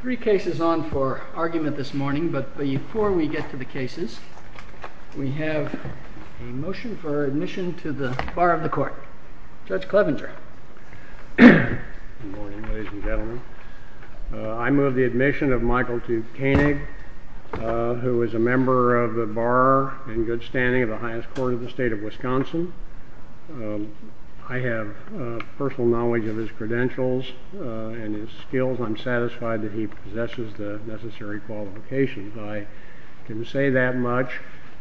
Three cases on for argument this morning, but before we get to the cases, we have a motion for admission to the Bar of the Court. Judge Clevenger. Good morning, ladies and gentlemen. I move the admission of Michael to Koenig, who is a member of the Bar in good standing of the highest court of the state of Wisconsin. I have personal knowledge of his credentials and his skills. I'm satisfied that he possesses the necessary qualifications. I can say that much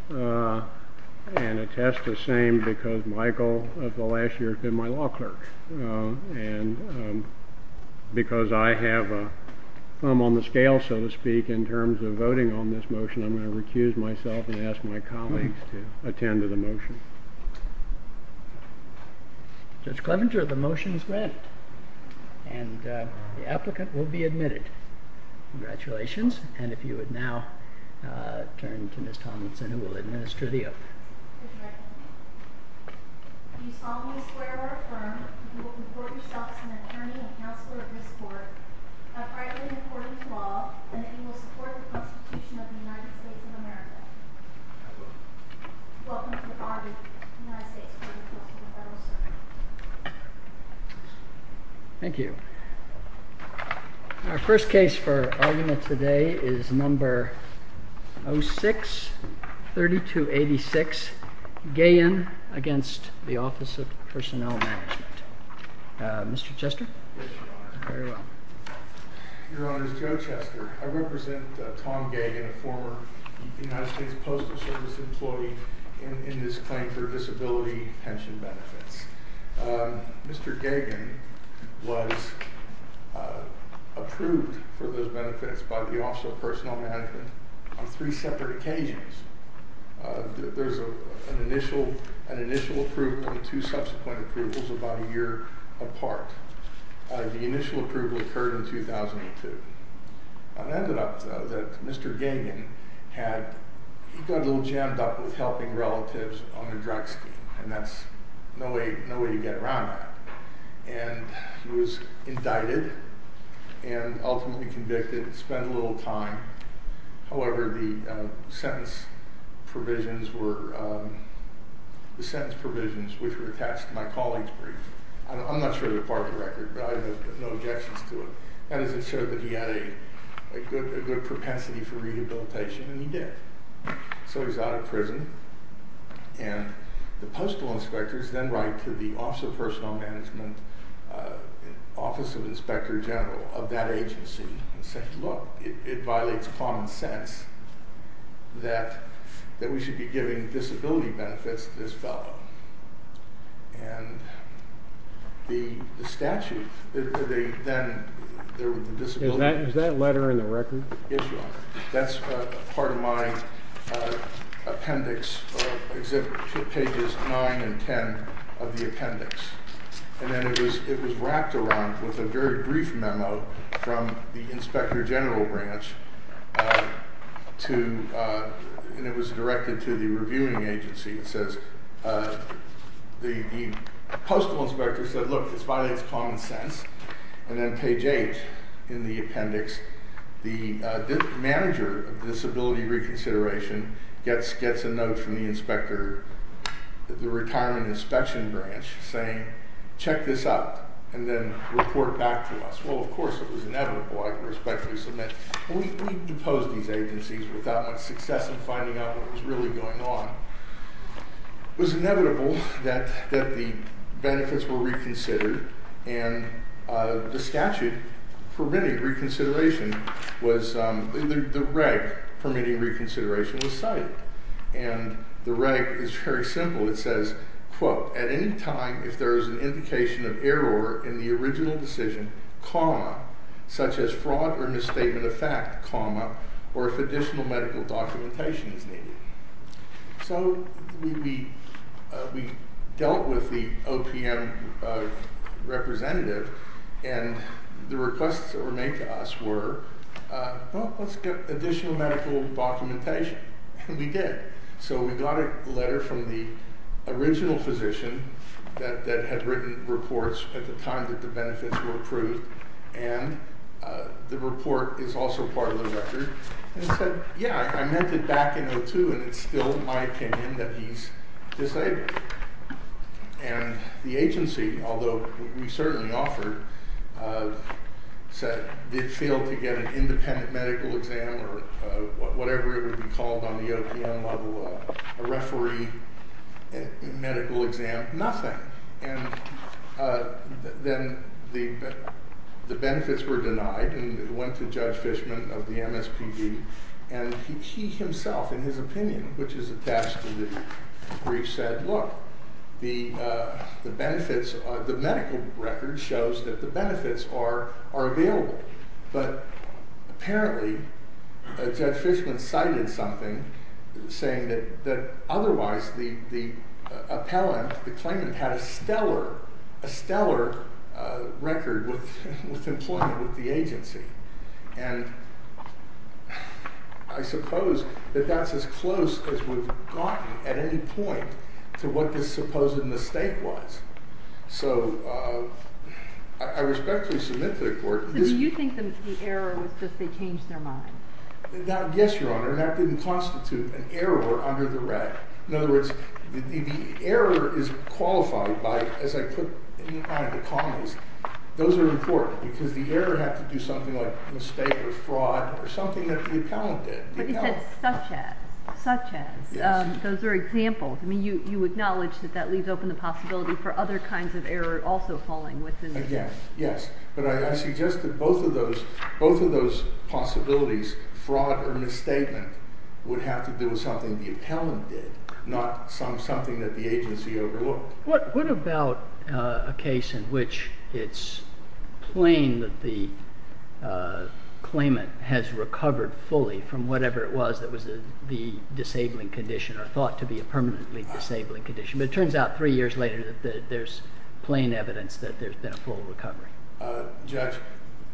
and attest the same because Michael of the last year has been my law clerk. And because I have a thumb on the scale, so to speak, in terms of voting on this motion, I'm going to recuse myself and ask my colleagues to attend to the motion. Judge Clevenger, the motion is granted and the applicant will be admitted. Congratulations. And if you would now turn to Ms. Tomlinson, who will administer the oath. Do you solemnly swear or affirm that you will comport yourself as an attorney and counselor of this court, and that you will support the Constitution of the United States of America? I do. Welcome to the Bar of the United States Court of Appeals for the Federal Circuit. Thank you. Our first case for argument today is number 06-3286, Gayen against the Office of Personnel Management. Mr. Chester? Yes, Your Honor. Very well. Your Honor, it's Joe Chester. I represent Tom Gayen, a former United States Postal Service employee, in this claim for disability pension benefits. Mr. Gayen was approved for those benefits by the Office of Personnel Management on three separate occasions. There's an initial approval and two subsequent approvals about a year apart. The initial approval occurred in 2002. It ended up, though, that Mr. Gayen got a little jammed up with helping relatives on the drugs team, and that's no way to get around that. He was indicted and ultimately convicted. He spent a little time. However, the sentence provisions were attached to my colleague's brief. I'm not sure they're part of the record, but I have no objections to it. That is, it showed that he had a good propensity for rehabilitation, and he did. So he's out of prison, and the postal inspectors then write to the Office of Personnel Management, Office of Inspector General of that agency, and say, Look, it violates common sense that we should be giving disability benefits to this fellow. And the statute, then, there was a disability benefit. Is that letter in the record? That's part of my appendix, pages 9 and 10 of the appendix. And then it was wrapped around with a very brief memo from the Inspector General branch, and it was directed to the reviewing agency. The postal inspector said, Look, it violates common sense. And then page 8 in the appendix, the manager of disability reconsideration gets a note from the retirement inspection branch saying, Check this out, and then report back to us. Well, of course, it was inevitable, I can respectfully submit. We deposed these agencies without much success in finding out what was really going on. It was inevitable that the benefits were reconsidered, and the statute permitting reconsideration was, the reg permitting reconsideration was cited. And the reg is very simple. It says, quote, At any time if there is an indication of error in the original decision, comma, such as fraud or misstatement of fact, comma, or if additional medical documentation is needed. So we dealt with the OPM representative, and the requests that were made to us were, Well, let's get additional medical documentation. And we did. So we got a letter from the original physician that had written reports at the time that the benefits were approved, and the report is also part of the record, and said, Yeah, I meant it back in 02, and it's still my opinion that he's disabled. And the agency, although we certainly offered, said, Did fail to get an independent medical exam or whatever it would be called on the OPM level, a referee medical exam, nothing. And then the benefits were denied, and it went to Judge Fishman of the MSPB, and he himself, in his opinion, which is attached to the brief, said, Look, the benefits, the medical record shows that the benefits are available. But apparently Judge Fishman cited something saying that otherwise the appellant, the claimant, had a stellar, stellar record with employment with the agency. And I suppose that that's as close as we've gotten at any point to what this supposed mistake was. So I respectfully submit to the court. So do you think the error was just they changed their mind? Yes, Your Honor. That didn't constitute an error under the reg. In other words, the error is qualified by, as I put in the comments, those are important, because the error had to do something like mistake or fraud or something that the appellant did. But you said such as. Such as. Yes. Those are examples. I mean, you acknowledge that that leaves open the possibility for other kinds of error also falling within. Again, yes. But I suggest that both of those, both of those possibilities, fraud or misstatement, would have to do with something the appellant did, not something that the agency overlooked. What about a case in which it's plain that the claimant has recovered fully from whatever it was that was the disabling condition or thought to be a permanently disabling condition? But it turns out three years later that there's plain evidence that there's been a full recovery. Judge,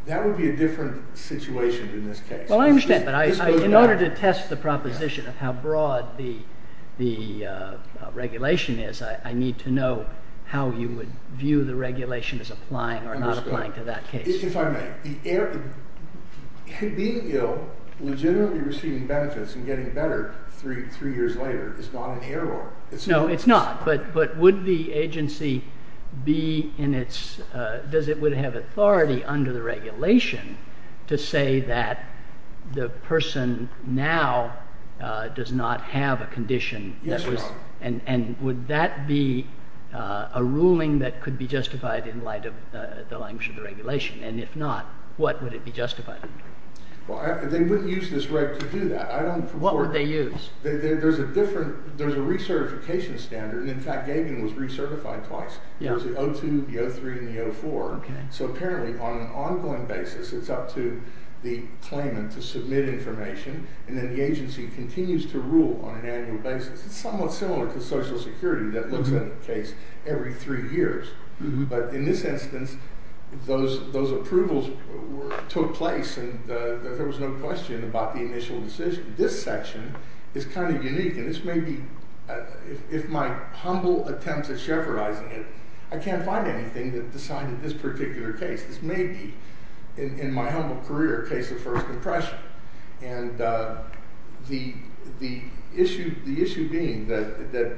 that would be a different situation in this case. Well, I understand. But in order to test the proposition of how broad the regulation is, I need to know how you would view the regulation as applying or not applying to that case. If I may, being ill, legitimately receiving benefits and getting better three years later is not an error. No, it's not. But would the agency be in its, does it would have authority under the regulation to say that the person now does not have a condition? Yes, Your Honor. And would that be a ruling that could be justified in light of the language of the regulation? And if not, what would it be justified? Well, they wouldn't use this right to do that. I don't. What would they use? There's a different, there's a recertification standard. In fact, Gagan was recertified twice. Yeah. It was the 02, the 03, and the 04. Okay. So apparently on an ongoing basis, it's up to the claimant to submit information and then the agency continues to rule on an annual basis. It's somewhat similar to Social Security that looks at a case every three years. But in this instance, those approvals took place and there was no question about the initial decision. This section is kind of unique, and this may be, if my humble attempts at chevronizing it, I can't find anything that decided this particular case. This may be, in my humble career, a case of first impression. And the issue being that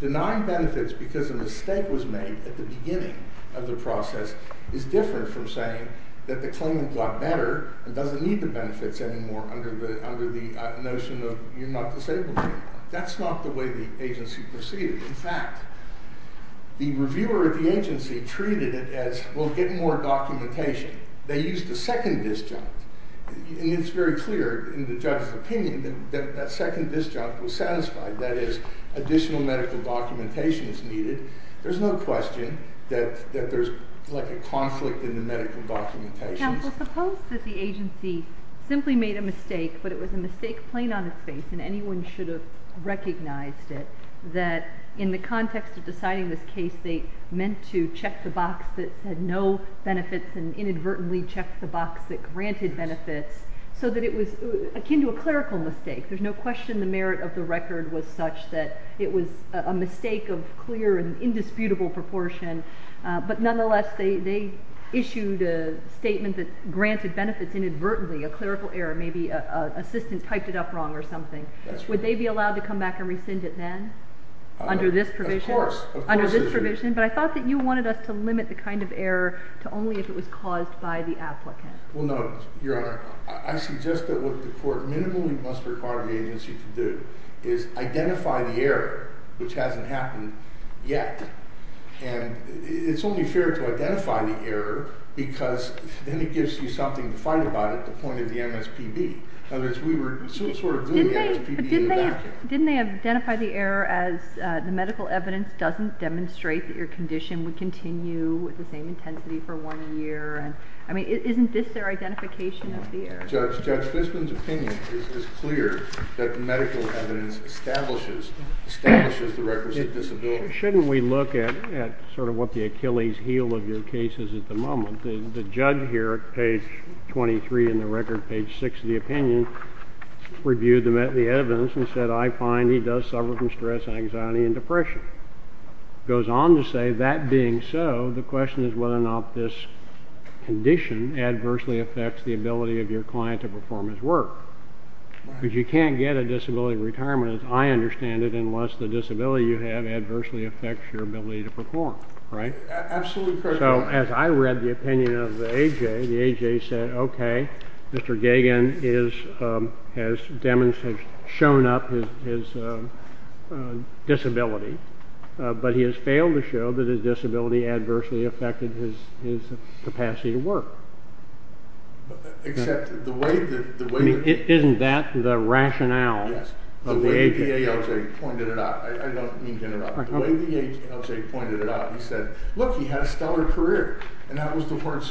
denying benefits because a mistake was made at the beginning of the process is different from saying that the claimant got better and doesn't need the benefits anymore under the notion of you're not disabled anymore. That's not the way the agency proceeded. In fact, the reviewer of the agency treated it as, well, get more documentation. They used a second disjunct. And it's very clear in the judge's opinion that that second disjunct was satisfied, that is, additional medical documentation is needed. There's no question that there's like a conflict in the medical documentation. Well, suppose that the agency simply made a mistake, but it was a mistake plain on its face and anyone should have recognized it, that in the context of deciding this case, they meant to check the box that said no benefits and inadvertently checked the box that granted benefits so that it was akin to a clerical mistake. There's no question the merit of the record was such that it was a mistake of clear and indisputable proportion. But nonetheless, they issued a statement that granted benefits inadvertently, a clerical error. Maybe an assistant typed it up wrong or something. Would they be allowed to come back and rescind it then under this provision? Of course. Under this provision? But I thought that you wanted us to limit the kind of error to only if it was caused by the applicant. Well, no, Your Honor. I suggest that what the court minimally must require the agency to do is identify the error, which hasn't happened yet. And it's only fair to identify the error because then it gives you something to fight about at the point of the MSPB. In other words, we were sort of doing the MSPB in the back end. Didn't they identify the error as the medical evidence doesn't demonstrate that your condition would continue with the same intensity for one year? I mean, isn't this their identification of the error? Judge, Judge Fisman's opinion is clear that the medical evidence establishes the records of disability. Shouldn't we look at sort of what the Achilles heel of your case is at the moment? The judge here at page 23 in the record, page 6 of the opinion, reviewed the evidence and said, I find he does suffer from stress, anxiety, and depression. Goes on to say, that being so, the question is whether or not this condition adversely affects the ability of your client to perform his work. Because you can't get a disability retirement as I understand it unless the disability you have adversely affects your ability to perform. Right? Absolutely correct, Your Honor. So as I read the opinion of the AJ, the AJ said, OK, Mr. Gagin has demonstrated, shown up his disability, but he has failed to show that his disability adversely affected his capacity to work. Except the way that the way that Isn't that the rationale? Yes. The way the AJ pointed it out, I don't mean to interrupt. The way the AJ pointed it out, he said, look, he had a stellar career. And that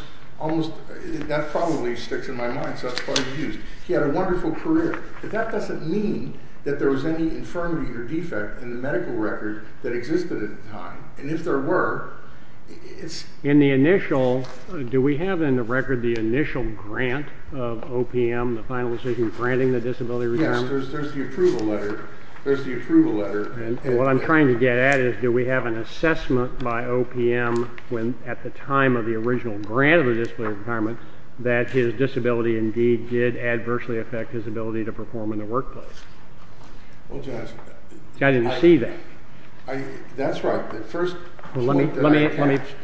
probably sticks in my mind, so that's probably used. He had a wonderful career. But that doesn't mean that there was any infirmity or defect in the medical record that existed at the time. And if there were, it's In the initial, do we have in the record the initial grant of OPM, the final decision granting the disability retirement? Yes, there's the approval letter. And what I'm trying to get at is, do we have an assessment by OPM at the time of the original grant of the disability retirement that his disability indeed did adversely affect his ability to perform in the workplace? Well, Judge. I didn't see that. That's right. First Let me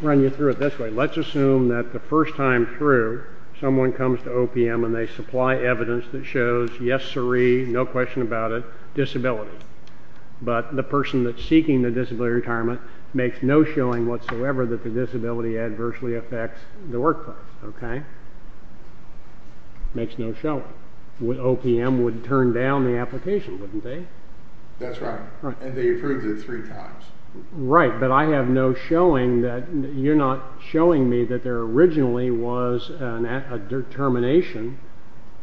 run you through it this way. Let's assume that the first time through, someone comes to OPM and they supply evidence that shows, yes, sirree, no question about it, disability. But the person that's seeking the disability retirement makes no showing whatsoever that the disability adversely affects the workplace. Okay? Makes no showing. OPM would turn down the application, wouldn't they? That's right. And they approved it three times. Right, but I have no showing that, you're not showing me that there originally was a determination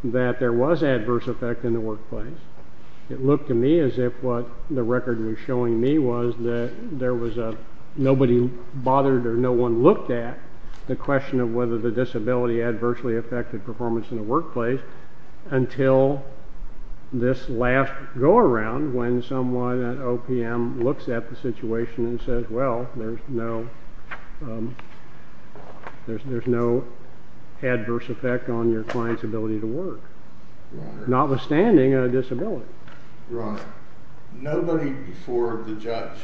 that there was adverse effect in the workplace. It looked to me as if what the record was showing me was that nobody bothered or no one looked at the question of whether the disability adversely affected performance in the workplace until this last go-around when someone at OPM looks at the situation and says, well, there's no adverse effect on your client's ability to work. Notwithstanding a disability. Your Honor, nobody before the judge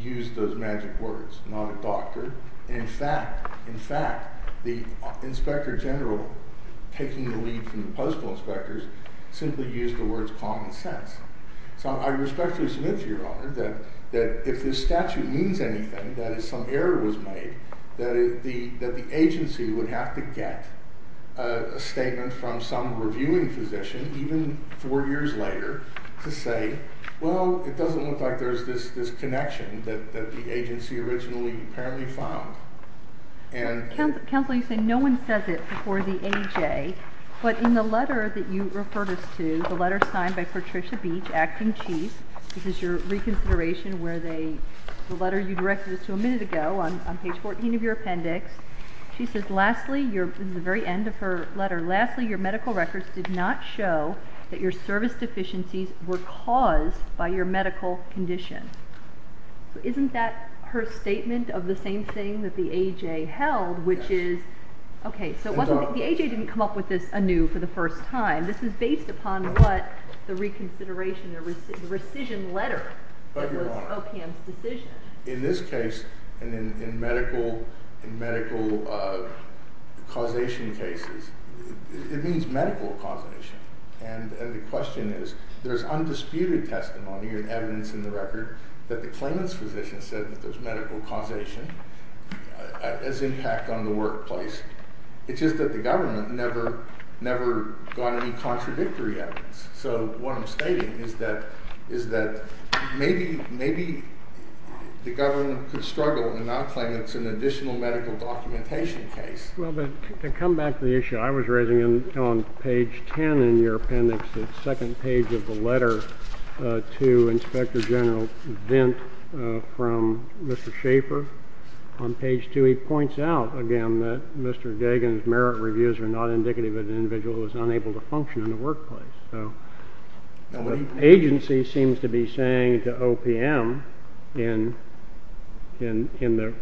used those magic words, not a doctor. In fact, the inspector general taking the lead from the postal inspectors simply used the words common sense. So I respectfully submit to Your Honor that if this statute means anything, that if some error was made, that the agency would have to get a statement from some reviewing physician, even four years later, to say, well, it doesn't look like there's this connection that the agency originally apparently found. Counsel, you say no one says it before the AJ, but in the letter that you referred us to, the letter signed by Patricia Beach, acting chief, this is your reconsideration where they, the letter you directed us to a minute ago on page 14 of your appendix. She says, lastly, this is the very end of her letter, lastly, your medical records did not show that your service deficiencies were caused by your medical condition. Isn't that her statement of the same thing that the AJ held, which is, okay, so it wasn't, the AJ didn't come up with this anew for the first time. This is based upon what the reconsideration, the rescission letter was OPM's decision. In this case, in medical causation cases, it means medical causation, and the question is, there's undisputed testimony and evidence in the record that the claimant's physician said that there's medical causation as impact on the workplace. It's just that the government never, never got any contradictory evidence. So what I'm stating is that, is that maybe, maybe the government could struggle and not claim it's an additional medical documentation case. Well, but to come back to the issue, I was raising on page 10 in your appendix, the second page of the letter to Inspector General Vint from Mr. Schaefer. On page two, he points out, again, that Mr. Dagan's merit reviews are not indicative that the individual was unable to function in the workplace. So the agency seems to be saying to OPM in the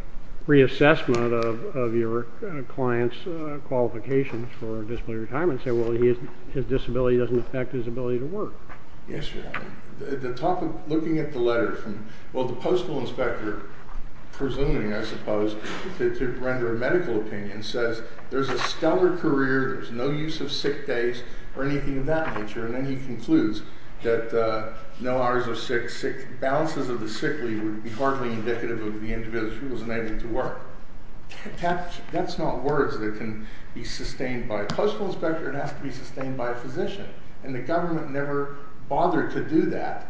reassessment of your client's qualifications for disability retirement, say, well, his disability doesn't affect his ability to work. Yes, Your Honor. The topic, looking at the letter from, well, the postal inspector, presuming, I suppose, to render a medical opinion, says there's a stellar career, there's no use of sick days or anything of that nature, and then he concludes that no hours are sick, balances of the sick leave would be hardly indicative of the individual's inability to work. That's not words that can be sustained by a postal inspector, it has to be sustained by a physician, and the government never bothered to do that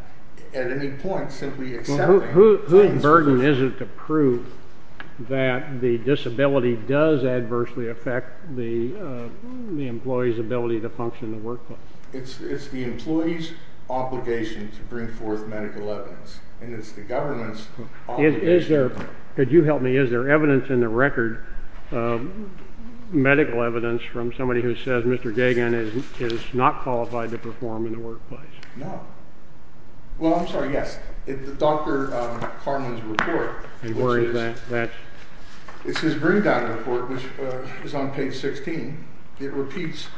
at any point, simply accepting. Whose burden is it to prove that the disability does adversely affect the employee's ability to function in the workplace? It's the employee's obligation to bring forth medical evidence, and it's the government's obligation. Could you help me? Is there evidence in the record, medical evidence, from somebody who says Mr. Gagin is not qualified to perform in the workplace? No. Well, I'm sorry, yes. Dr. Carman's report, which is his bring-down report, which is on page 16, it repeats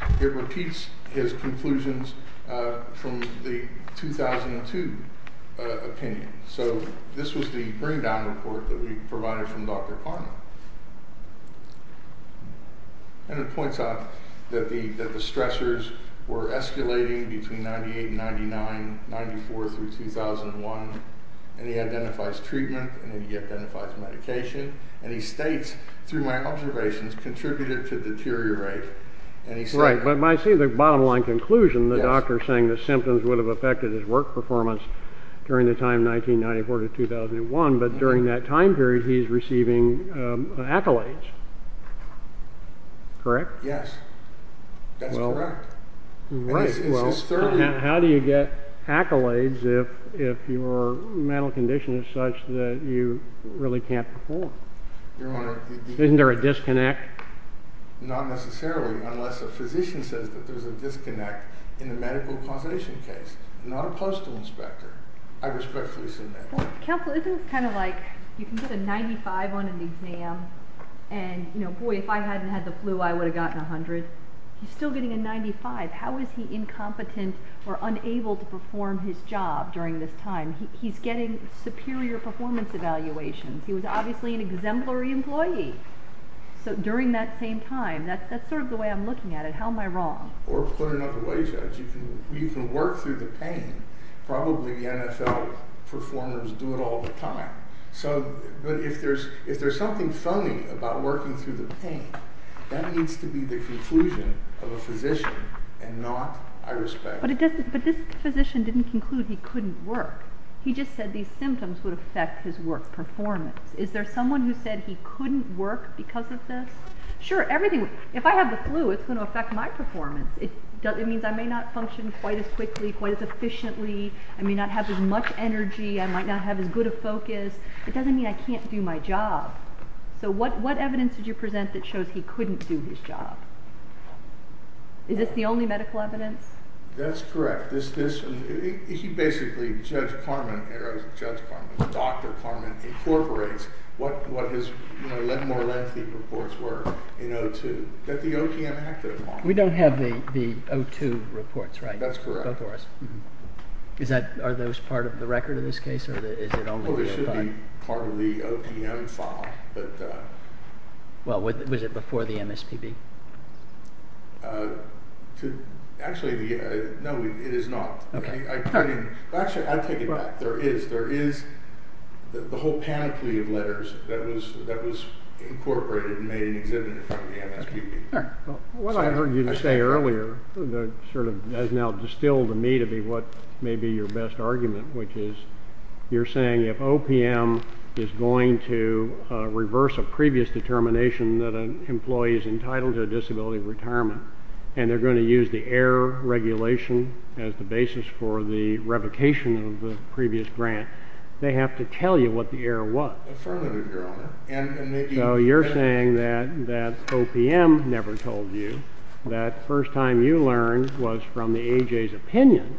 his conclusions from the 2002 opinion. So this was the bring-down report that we provided from Dr. Carman. And it points out that the stressors were escalating between 98 and 99, 94 through 2001, and he identifies treatment, and he identifies medication, and he states, through my observations, contributed to deteriorate. Right, but I see the bottom-line conclusion, the doctor saying the symptoms would have affected his work performance during the time 1994 to 2001, but during that time period he's receiving accolades. Correct? Yes, that's correct. Right, well, how do you get accolades if your mental condition is such that you really can't perform? Isn't there a disconnect? Not necessarily, unless a physician says that there's a disconnect in the medical causation case, not a postal inspector. I respectfully submit. Counsel, isn't it kind of like, you can get a 95 on an exam, and, you know, boy, if I hadn't had the flu, I would have gotten a 100. He's still getting a 95. How is he incompetent or unable to perform his job during this time? He's getting superior performance evaluations. He was obviously an exemplary employee during that same time. That's sort of the way I'm looking at it. How am I wrong? Or put another way, Judge, you can work through the pain. Probably the NFL performers do it all the time. But if there's something funny about working through the pain, that needs to be the conclusion of a physician and not, I respect. But this physician didn't conclude he couldn't work. He just said these symptoms would affect his work performance. Is there someone who said he couldn't work because of this? Sure, if I have the flu, it's going to affect my performance. It means I may not function quite as quickly, quite as efficiently. I may not have as much energy. I might not have as good a focus. It doesn't mean I can't do my job. So what evidence did you present that shows he couldn't do his job? Is this the only medical evidence? That's correct. He basically, Judge Carman, Dr. Carman, incorporates what his more lengthy reports were in O2. We don't have the O2 reports, right? That's correct. Are those part of the record of this case? Well, they should be part of the OPM file. Well, was it before the MSPB? Actually, no, it is not. Actually, I take it back. There is the whole panoply of letters that was incorporated and made an exhibit in front of the MSPB. What I heard you say earlier sort of has now distilled to me to be what may be your best argument, which is you're saying if OPM is going to reverse a previous determination that an employee is entitled to a disability retirement and they're going to use the error regulation as the basis for the revocation of the previous grant, they have to tell you what the error was. Affirmative, Your Honor. So you're saying that OPM never told you. That first time you learned was from the A.J.'s opinion,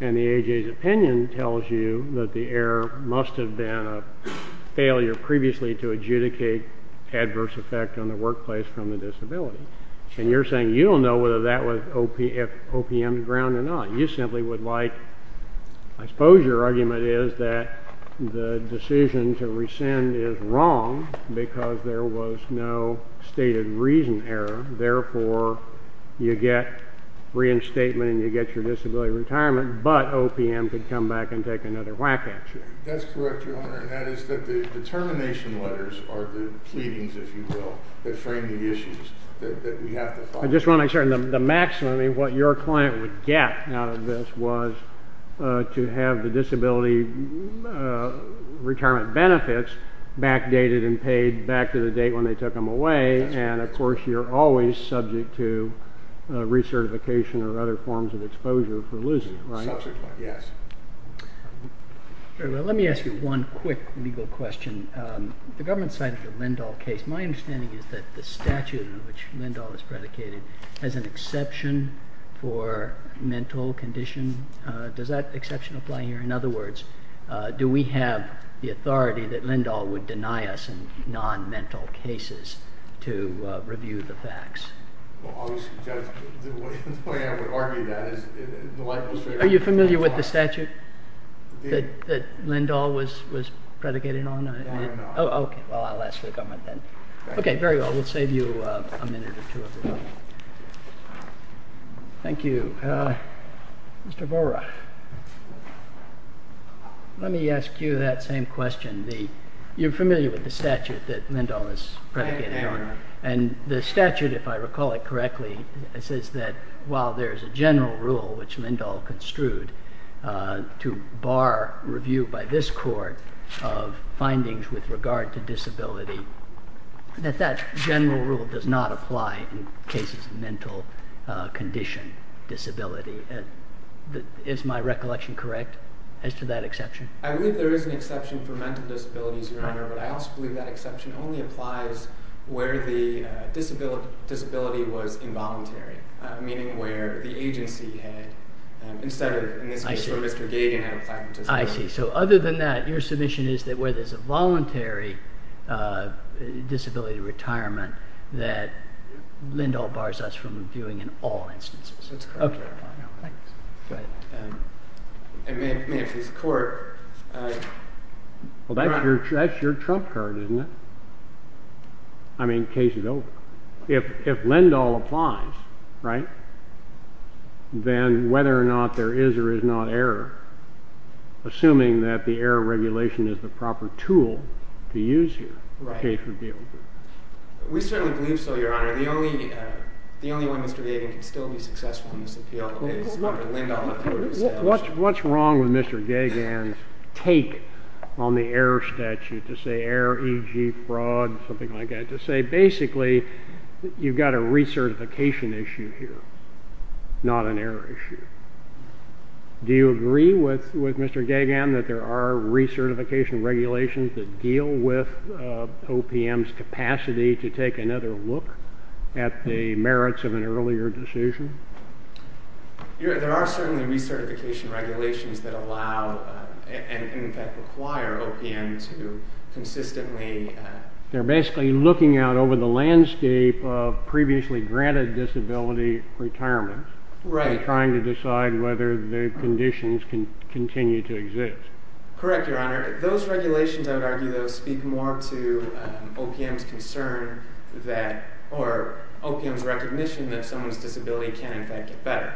and the A.J.'s opinion tells you that the error must have been a failure previously to adjudicate adverse effect on the workplace from the disability. And you're saying you don't know whether that was OPM's ground or not. I suppose your argument is that the decision to rescind is wrong because there was no stated reason error. Therefore, you get reinstatement and you get your disability retirement, but OPM could come back and take another whack at you. That's correct, Your Honor. And that is that the determination letters are the pleadings, if you will, that frame the issues that we have to follow. I just want to make certain that the maximum of what your client would get out of this was to have the disability retirement benefits backdated and paid back to the date when they took them away. And, of course, you're always subject to recertification or other forms of exposure for losing, right? Yes. Let me ask you one quick legal question. The government cited the Lindahl case. My understanding is that the statute in which Lindahl was predicated has an exception for mental condition. Does that exception apply here? In other words, do we have the authority that Lindahl would deny us in non-mental cases to review the facts? Well, obviously, Judge, the way I would argue that is the likelihood… Are you familiar with the statute that Lindahl was predicated on? No, I'm not. Oh, okay. Well, I'll ask the government then. Okay, very well. We'll save you a minute or two. Thank you. Mr. Borah, let me ask you that same question. You're familiar with the statute that Lindahl was predicated on, and the statute, if I recall it correctly, says that while there's a general rule which Lindahl construed to bar review by this court of findings with regard to disability, that that general rule does not apply in cases of mental condition disability. Is my recollection correct as to that exception? I believe there is an exception for mental disabilities, Your Honor, but I also believe that exception only applies where the disability was involuntary, meaning where the agency had, instead of, in this case, where Mr. Gagin had a platent disability. I see. So other than that, your submission is that where there's a voluntary disability retirement that Lindahl bars us from reviewing in all instances. That's correct, Your Honor. Okay. Thanks. It may have pleased the court. Well, that's your trump card, isn't it? I mean, case is over. If Lindahl applies, right, then whether or not there is or is not error, assuming that the error regulation is the proper tool to use here, the case would be over. We certainly believe so, Your Honor. The only way Mr. Gagin can still be successful in this appeal is under Lindahl. What's wrong with Mr. Gagin's take on the error statute to say error, e.g., fraud, something like that, to say basically you've got a recertification issue here, not an error issue? Do you agree with Mr. Gagin that there are recertification regulations that deal with OPM's capacity to take another look at the merits of an earlier decision? There are certainly recertification regulations that allow and, in fact, require OPM to consistently They're basically looking out over the landscape of previously granted disability retirement and trying to decide whether the conditions continue to exist. Correct, Your Honor. Those regulations, I would argue, though, speak more to OPM's concern that or OPM's recognition that someone's disability can, in fact, get better,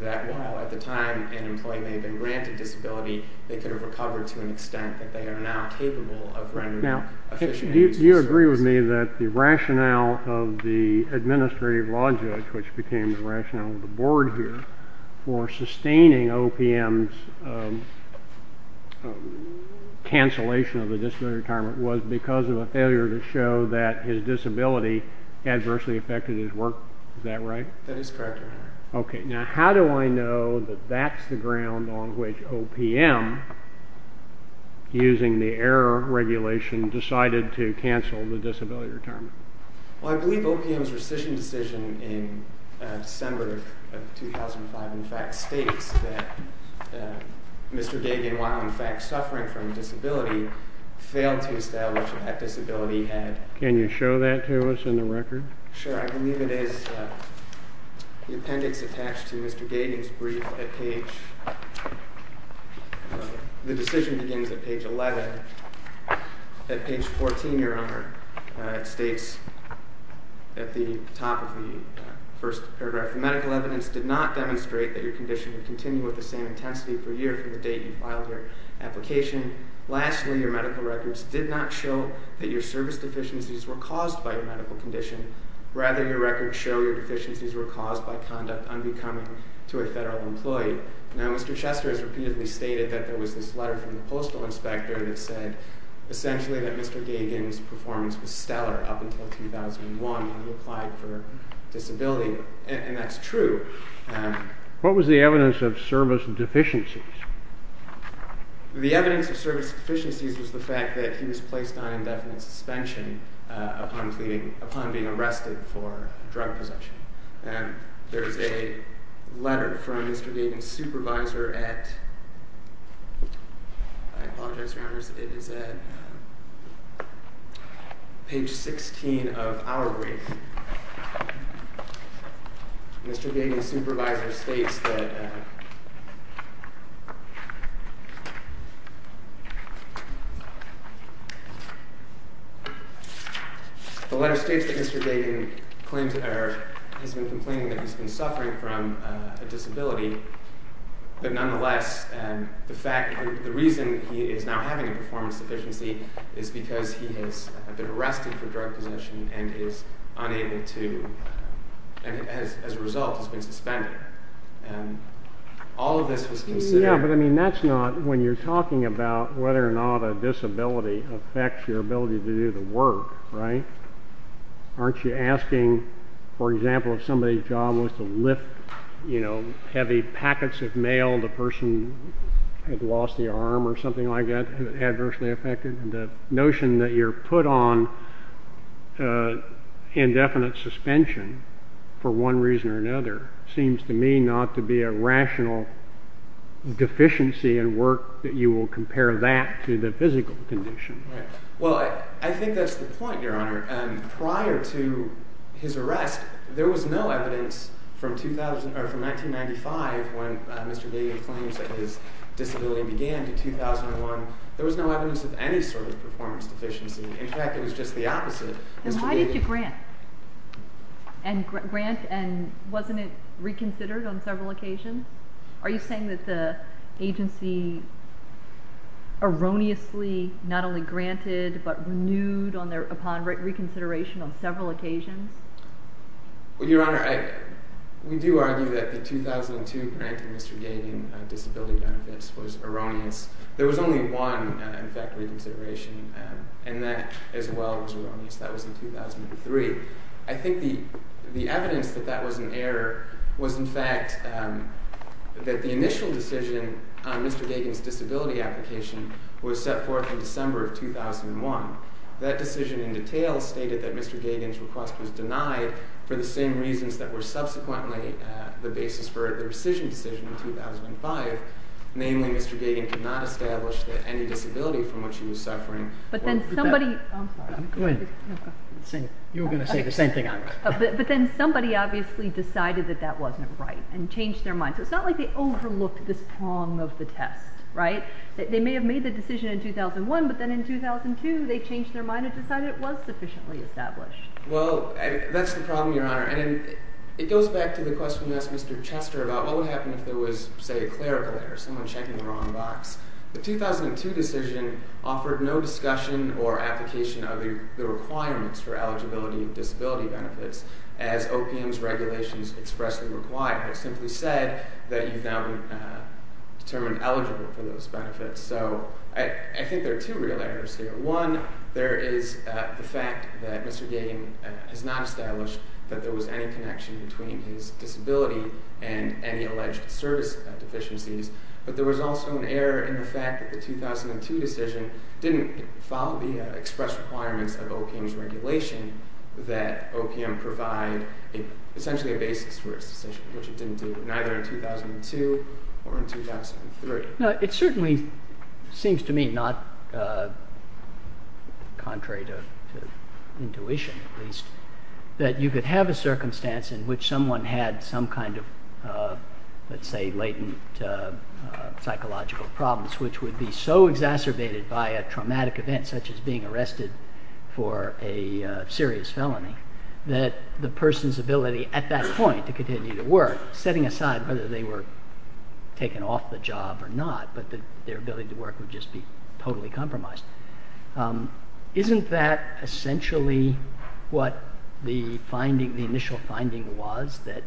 that while at the time an employee may have been granted disability, they could have recovered to an extent that they are now capable of rendering efficiency to services. Now, do you agree with me that the rationale of the administrative law judge, which became the rationale of the board here, for sustaining OPM's cancellation of the disability retirement was because of a failure to show that his disability adversely affected his work? Is that right? That is correct, Your Honor. Okay. Now, how do I know that that's the ground on which OPM, using the error regulation, decided to cancel the disability retirement? Well, I believe OPM's rescission decision in December of 2005, in fact, states that Mr. Gagin, while in fact suffering from a disability, failed to establish that that disability had Can you show that to us in the record? Sure. I believe it is the appendix attached to Mr. Gagin's brief at page The decision begins at page 11. At page 14, Your Honor, it states at the top of the first paragraph, The medical evidence did not demonstrate that your condition would continue with the same intensity per year from the date you filed your application. Lastly, your medical records did not show that your service deficiencies were caused by your medical condition. Rather, your records show your deficiencies were caused by conduct unbecoming to a federal employee. Now, Mr. Chester has repeatedly stated that there was this letter from the postal inspector that said essentially that Mr. Gagin's performance was stellar up until 2001 when he applied for disability, and that's true. What was the evidence of service deficiencies? The evidence of service deficiencies was the fact that he was placed on indefinite suspension upon being arrested for drug possession. There is a letter from Mr. Gagin's supervisor at I apologize, Your Honor, it is at page 16 of our brief. Mr. Gagin's supervisor states that The letter states that Mr. Gagin has been complaining that he's been suffering from a disability, but nonetheless, the reason he is now having a performance deficiency is because he has been arrested for drug possession and as a result has been suspended. All of this was considered Yeah, but I mean that's not when you're talking about whether or not a disability affects your ability to do the work, right? Aren't you asking, for example, if somebody's job was to lift, you know, heavy packets of mail, the person had lost the arm or something like that, had it adversely affected? The notion that you're put on indefinite suspension for one reason or another seems to me not to be a rational deficiency in work that you will compare that to the physical condition. Well, I think that's the point, Your Honor. Prior to his arrest, there was no evidence from 1995 when Mr. Gagin claims that his disability began to 2001. There was no evidence of any sort of performance deficiency. In fact, it was just the opposite. Then why did you grant and grant and wasn't it reconsidered on several occasions? Are you saying that the agency erroneously not only granted but renewed upon reconsideration on several occasions? Well, Your Honor, we do argue that the 2002 granting Mr. Gagin disability benefits was erroneous. There was only one, in fact, reconsideration, and that as well was erroneous. That was in 2003. I think the evidence that that was an error was, in fact, that the initial decision on Mr. Gagin's disability application was set forth in December of 2001. That decision in detail stated that Mr. Gagin's request was denied for the same reasons that were subsequently the basis for the rescission decision in 2005, namely Mr. Gagin could not establish that any disability from which he was suffering. But then somebody—I'm sorry. Go ahead. You were going to say the same thing I was. But then somebody obviously decided that that wasn't right and changed their mind. So it's not like they overlooked this prong of the test, right? They may have made the decision in 2001, but then in 2002 they changed their mind and decided it was sufficiently established. Well, that's the problem, Your Honor. And it goes back to the question you asked Mr. Chester about what would happen if there was, say, a clerical error, someone checking the wrong box. The 2002 decision offered no discussion or application of the requirements for eligibility disability benefits as OPM's regulations expressly require. It simply said that you've now been determined eligible for those benefits. So I think there are two real errors here. One, there is the fact that Mr. Gagin has not established that there was any connection between his disability and any alleged service deficiencies. But there was also an error in the fact that the 2002 decision didn't follow the express requirements of OPM's regulation that OPM provide essentially a basis for its decision, which it didn't do, neither in 2002 or in 2003. Now, it certainly seems to me not contrary to intuition, at least, that you could have a circumstance in which someone had some kind of, let's say, latent psychological problems, which would be so exacerbated by a traumatic event such as being arrested for a serious felony that the person's ability at that point to continue to work, setting aside whether they were taken off the job or not, but that their ability to work would just be totally compromised. Isn't that essentially what the initial finding was, that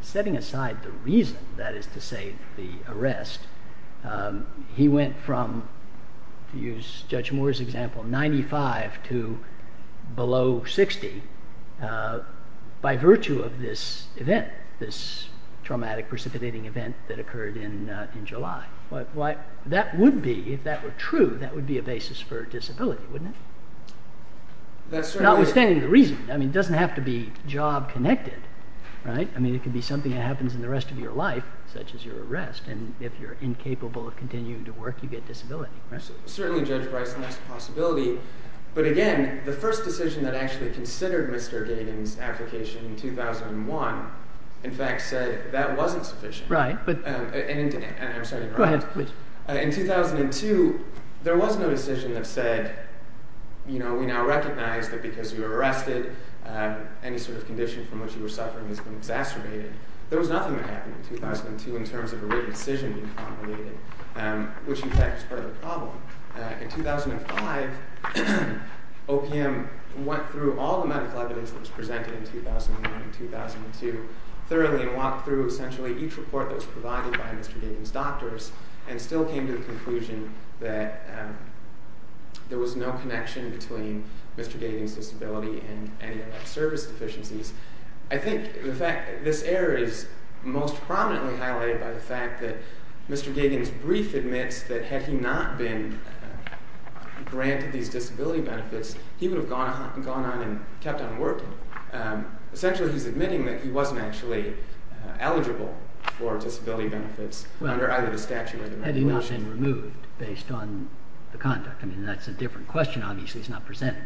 setting aside the reason, that is to say, the arrest, he went from, to use Judge Moore's example, 95 to below 60 by virtue of this event, this traumatic, precipitating event that occurred in July. That would be, if that were true, that would be a basis for disability, wouldn't it? Notwithstanding the reason. I mean, it doesn't have to be job-connected. I mean, it could be something that happens in the rest of your life, such as your arrest, and if you're incapable of continuing to work, you get disability. Certainly, Judge Bryce, that's a possibility. But again, the first decision that actually considered Mr. Gagan's application in 2001, in fact, said that wasn't sufficient. In 2002, there was no decision that said, you know, we now recognize that because you were arrested, any sort of condition from which you were suffering has been exacerbated. There was nothing that happened in 2002 in terms of a written decision being formulated, which in fact was part of the problem. In 2005, OPM went through all the medical evidence that was presented in 2009 and 2002 thoroughly and walked through essentially each report that was provided by Mr. Gagan's doctors and still came to the conclusion that there was no connection between Mr. Gagan's disability and any of that service deficiencies. I think the fact that this error is most prominently highlighted by the fact that Mr. Gagan's brief admits that had he not been granted these disability benefits, he would have gone on and kept on working. Essentially, he's admitting that he wasn't actually eligible for disability benefits under either the statute or the regulations. Well, had he not been removed based on the conduct? I mean, that's a different question. Obviously, it's not presented.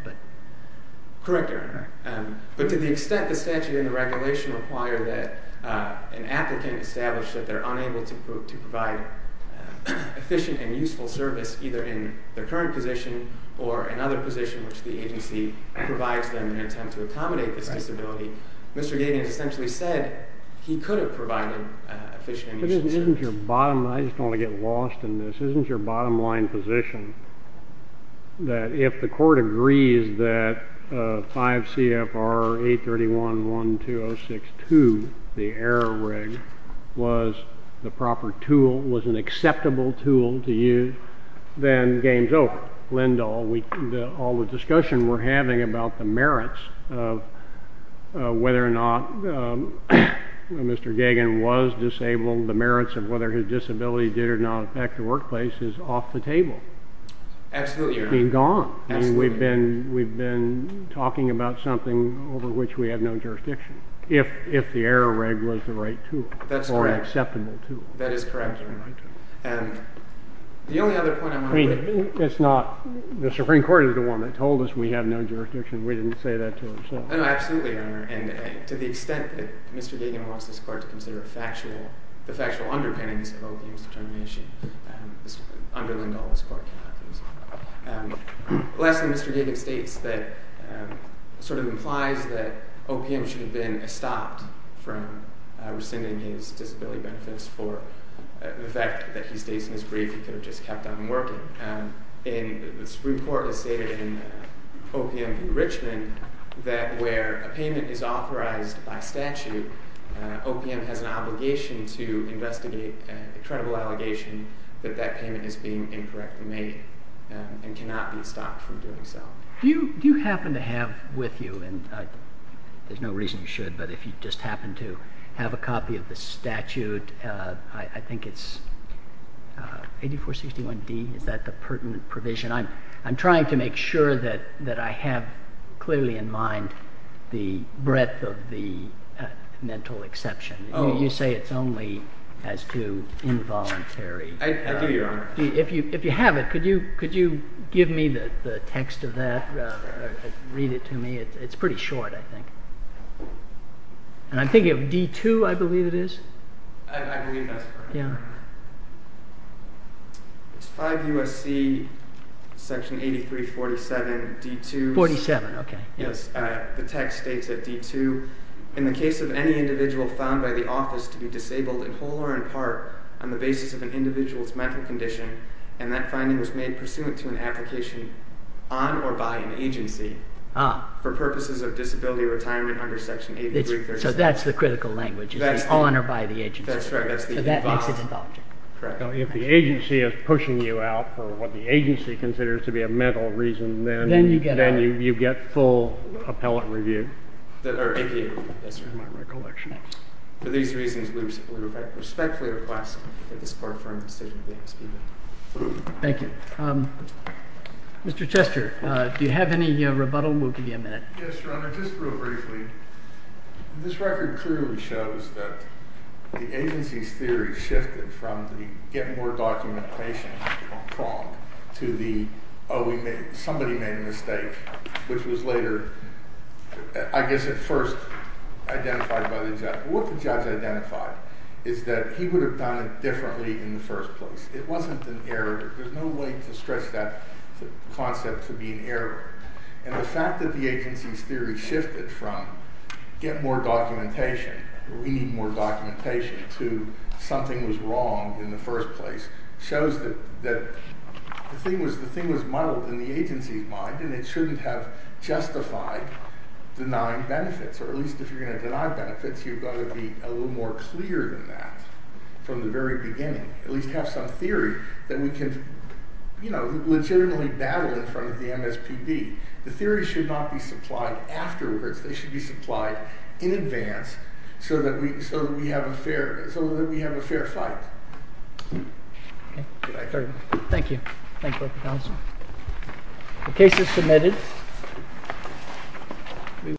Correct, Your Honor. But to the extent the statute and the regulation require that an applicant establish that they're unable to provide efficient and useful service, either in their current position or another position which the agency provides them in an attempt to accommodate this disability, Mr. Gagan essentially said he could have provided efficient and useful service. Isn't your bottom line—I just don't want to get lost in this—isn't your bottom line position that if the court agrees that 5 CFR 831.1206.2, the error rig, was the proper tool, was an acceptable tool to use, then the game's over? All the discussion we're having about the merits of whether or not Mr. Gagan was disabled, the merits of whether his disability did or not affect the workplace, is off the table. Absolutely, Your Honor. Gone. Absolutely. I mean, we've been talking about something over which we have no jurisdiction. If the error rig was the right tool. Or an acceptable tool. That is correct, Your Honor. The only other point I want to make— I mean, it's not—the Supreme Court is the one that told us we have no jurisdiction. We didn't say that to them. No, absolutely, Your Honor. And to the extent that Mr. Gagan wants this court to consider the factual underpinnings of OPM's determination, this would underline all this court conduct. Lastly, Mr. Gagan states that—sort of implies that OPM should have been stopped from rescinding his disability benefits for the fact that he states in his brief he could have just kept on working. And the Supreme Court has stated in OPM v. Richmond that where a payment is authorized by statute, OPM has an obligation to investigate a credible allegation that that payment is being incorrectly made and cannot be stopped from doing so. Do you happen to have with you—and there's no reason you should, but if you just happen to have a copy of the statute, I think it's 8461D. Is that the pertinent provision? I'm trying to make sure that I have clearly in mind the breadth of the mental exception. You say it's only as to involuntary. I do, Your Honor. If you have it, could you give me the text of that or read it to me? It's pretty short, I think. And I'm thinking of D-2, I believe it is. I believe that's correct. It's 5 U.S.C. section 8347, D-2. 47, okay. Yes, the text states that D-2, in the case of any individual found by the office to be disabled in whole or in part on the basis of an individual's mental condition, and that finding was made pursuant to an application on or by an agency for purposes of disability retirement under section 8347. So that's the critical language, on or by the agency. That's right. So that makes it involuntary. Correct. If the agency is pushing you out for what the agency considers to be a mental reason, then you get full appellate review. Thank you. Yes, sir. I'm not recollecting it. For these reasons, we respectfully request that this Court firm decision be expedited. Thank you. Mr. Chester, do you have any rebuttal? We'll give you a minute. Yes, Your Honor. Your Honor, just real briefly, this record clearly shows that the agency's theory shifted from the get more documentation prong to the somebody made a mistake, which was later, I guess at first, identified by the judge. What the judge identified is that he would have done it differently in the first place. It wasn't an error. There's no way to stretch that concept to be an error. And the fact that the agency's theory shifted from get more documentation or we need more documentation to something was wrong in the first place shows that the thing was muddled in the agency's mind, and it shouldn't have justified denying benefits, or at least if you're going to deny benefits, you've got to be a little more clear than that from the very beginning, at least have some theory that we can, you know, legitimately battle in front of the MSPB. The theory should not be supplied afterwards. They should be supplied in advance so that we have a fair fight. Okay. Thank you. Thank you both for counseling. The case is submitted.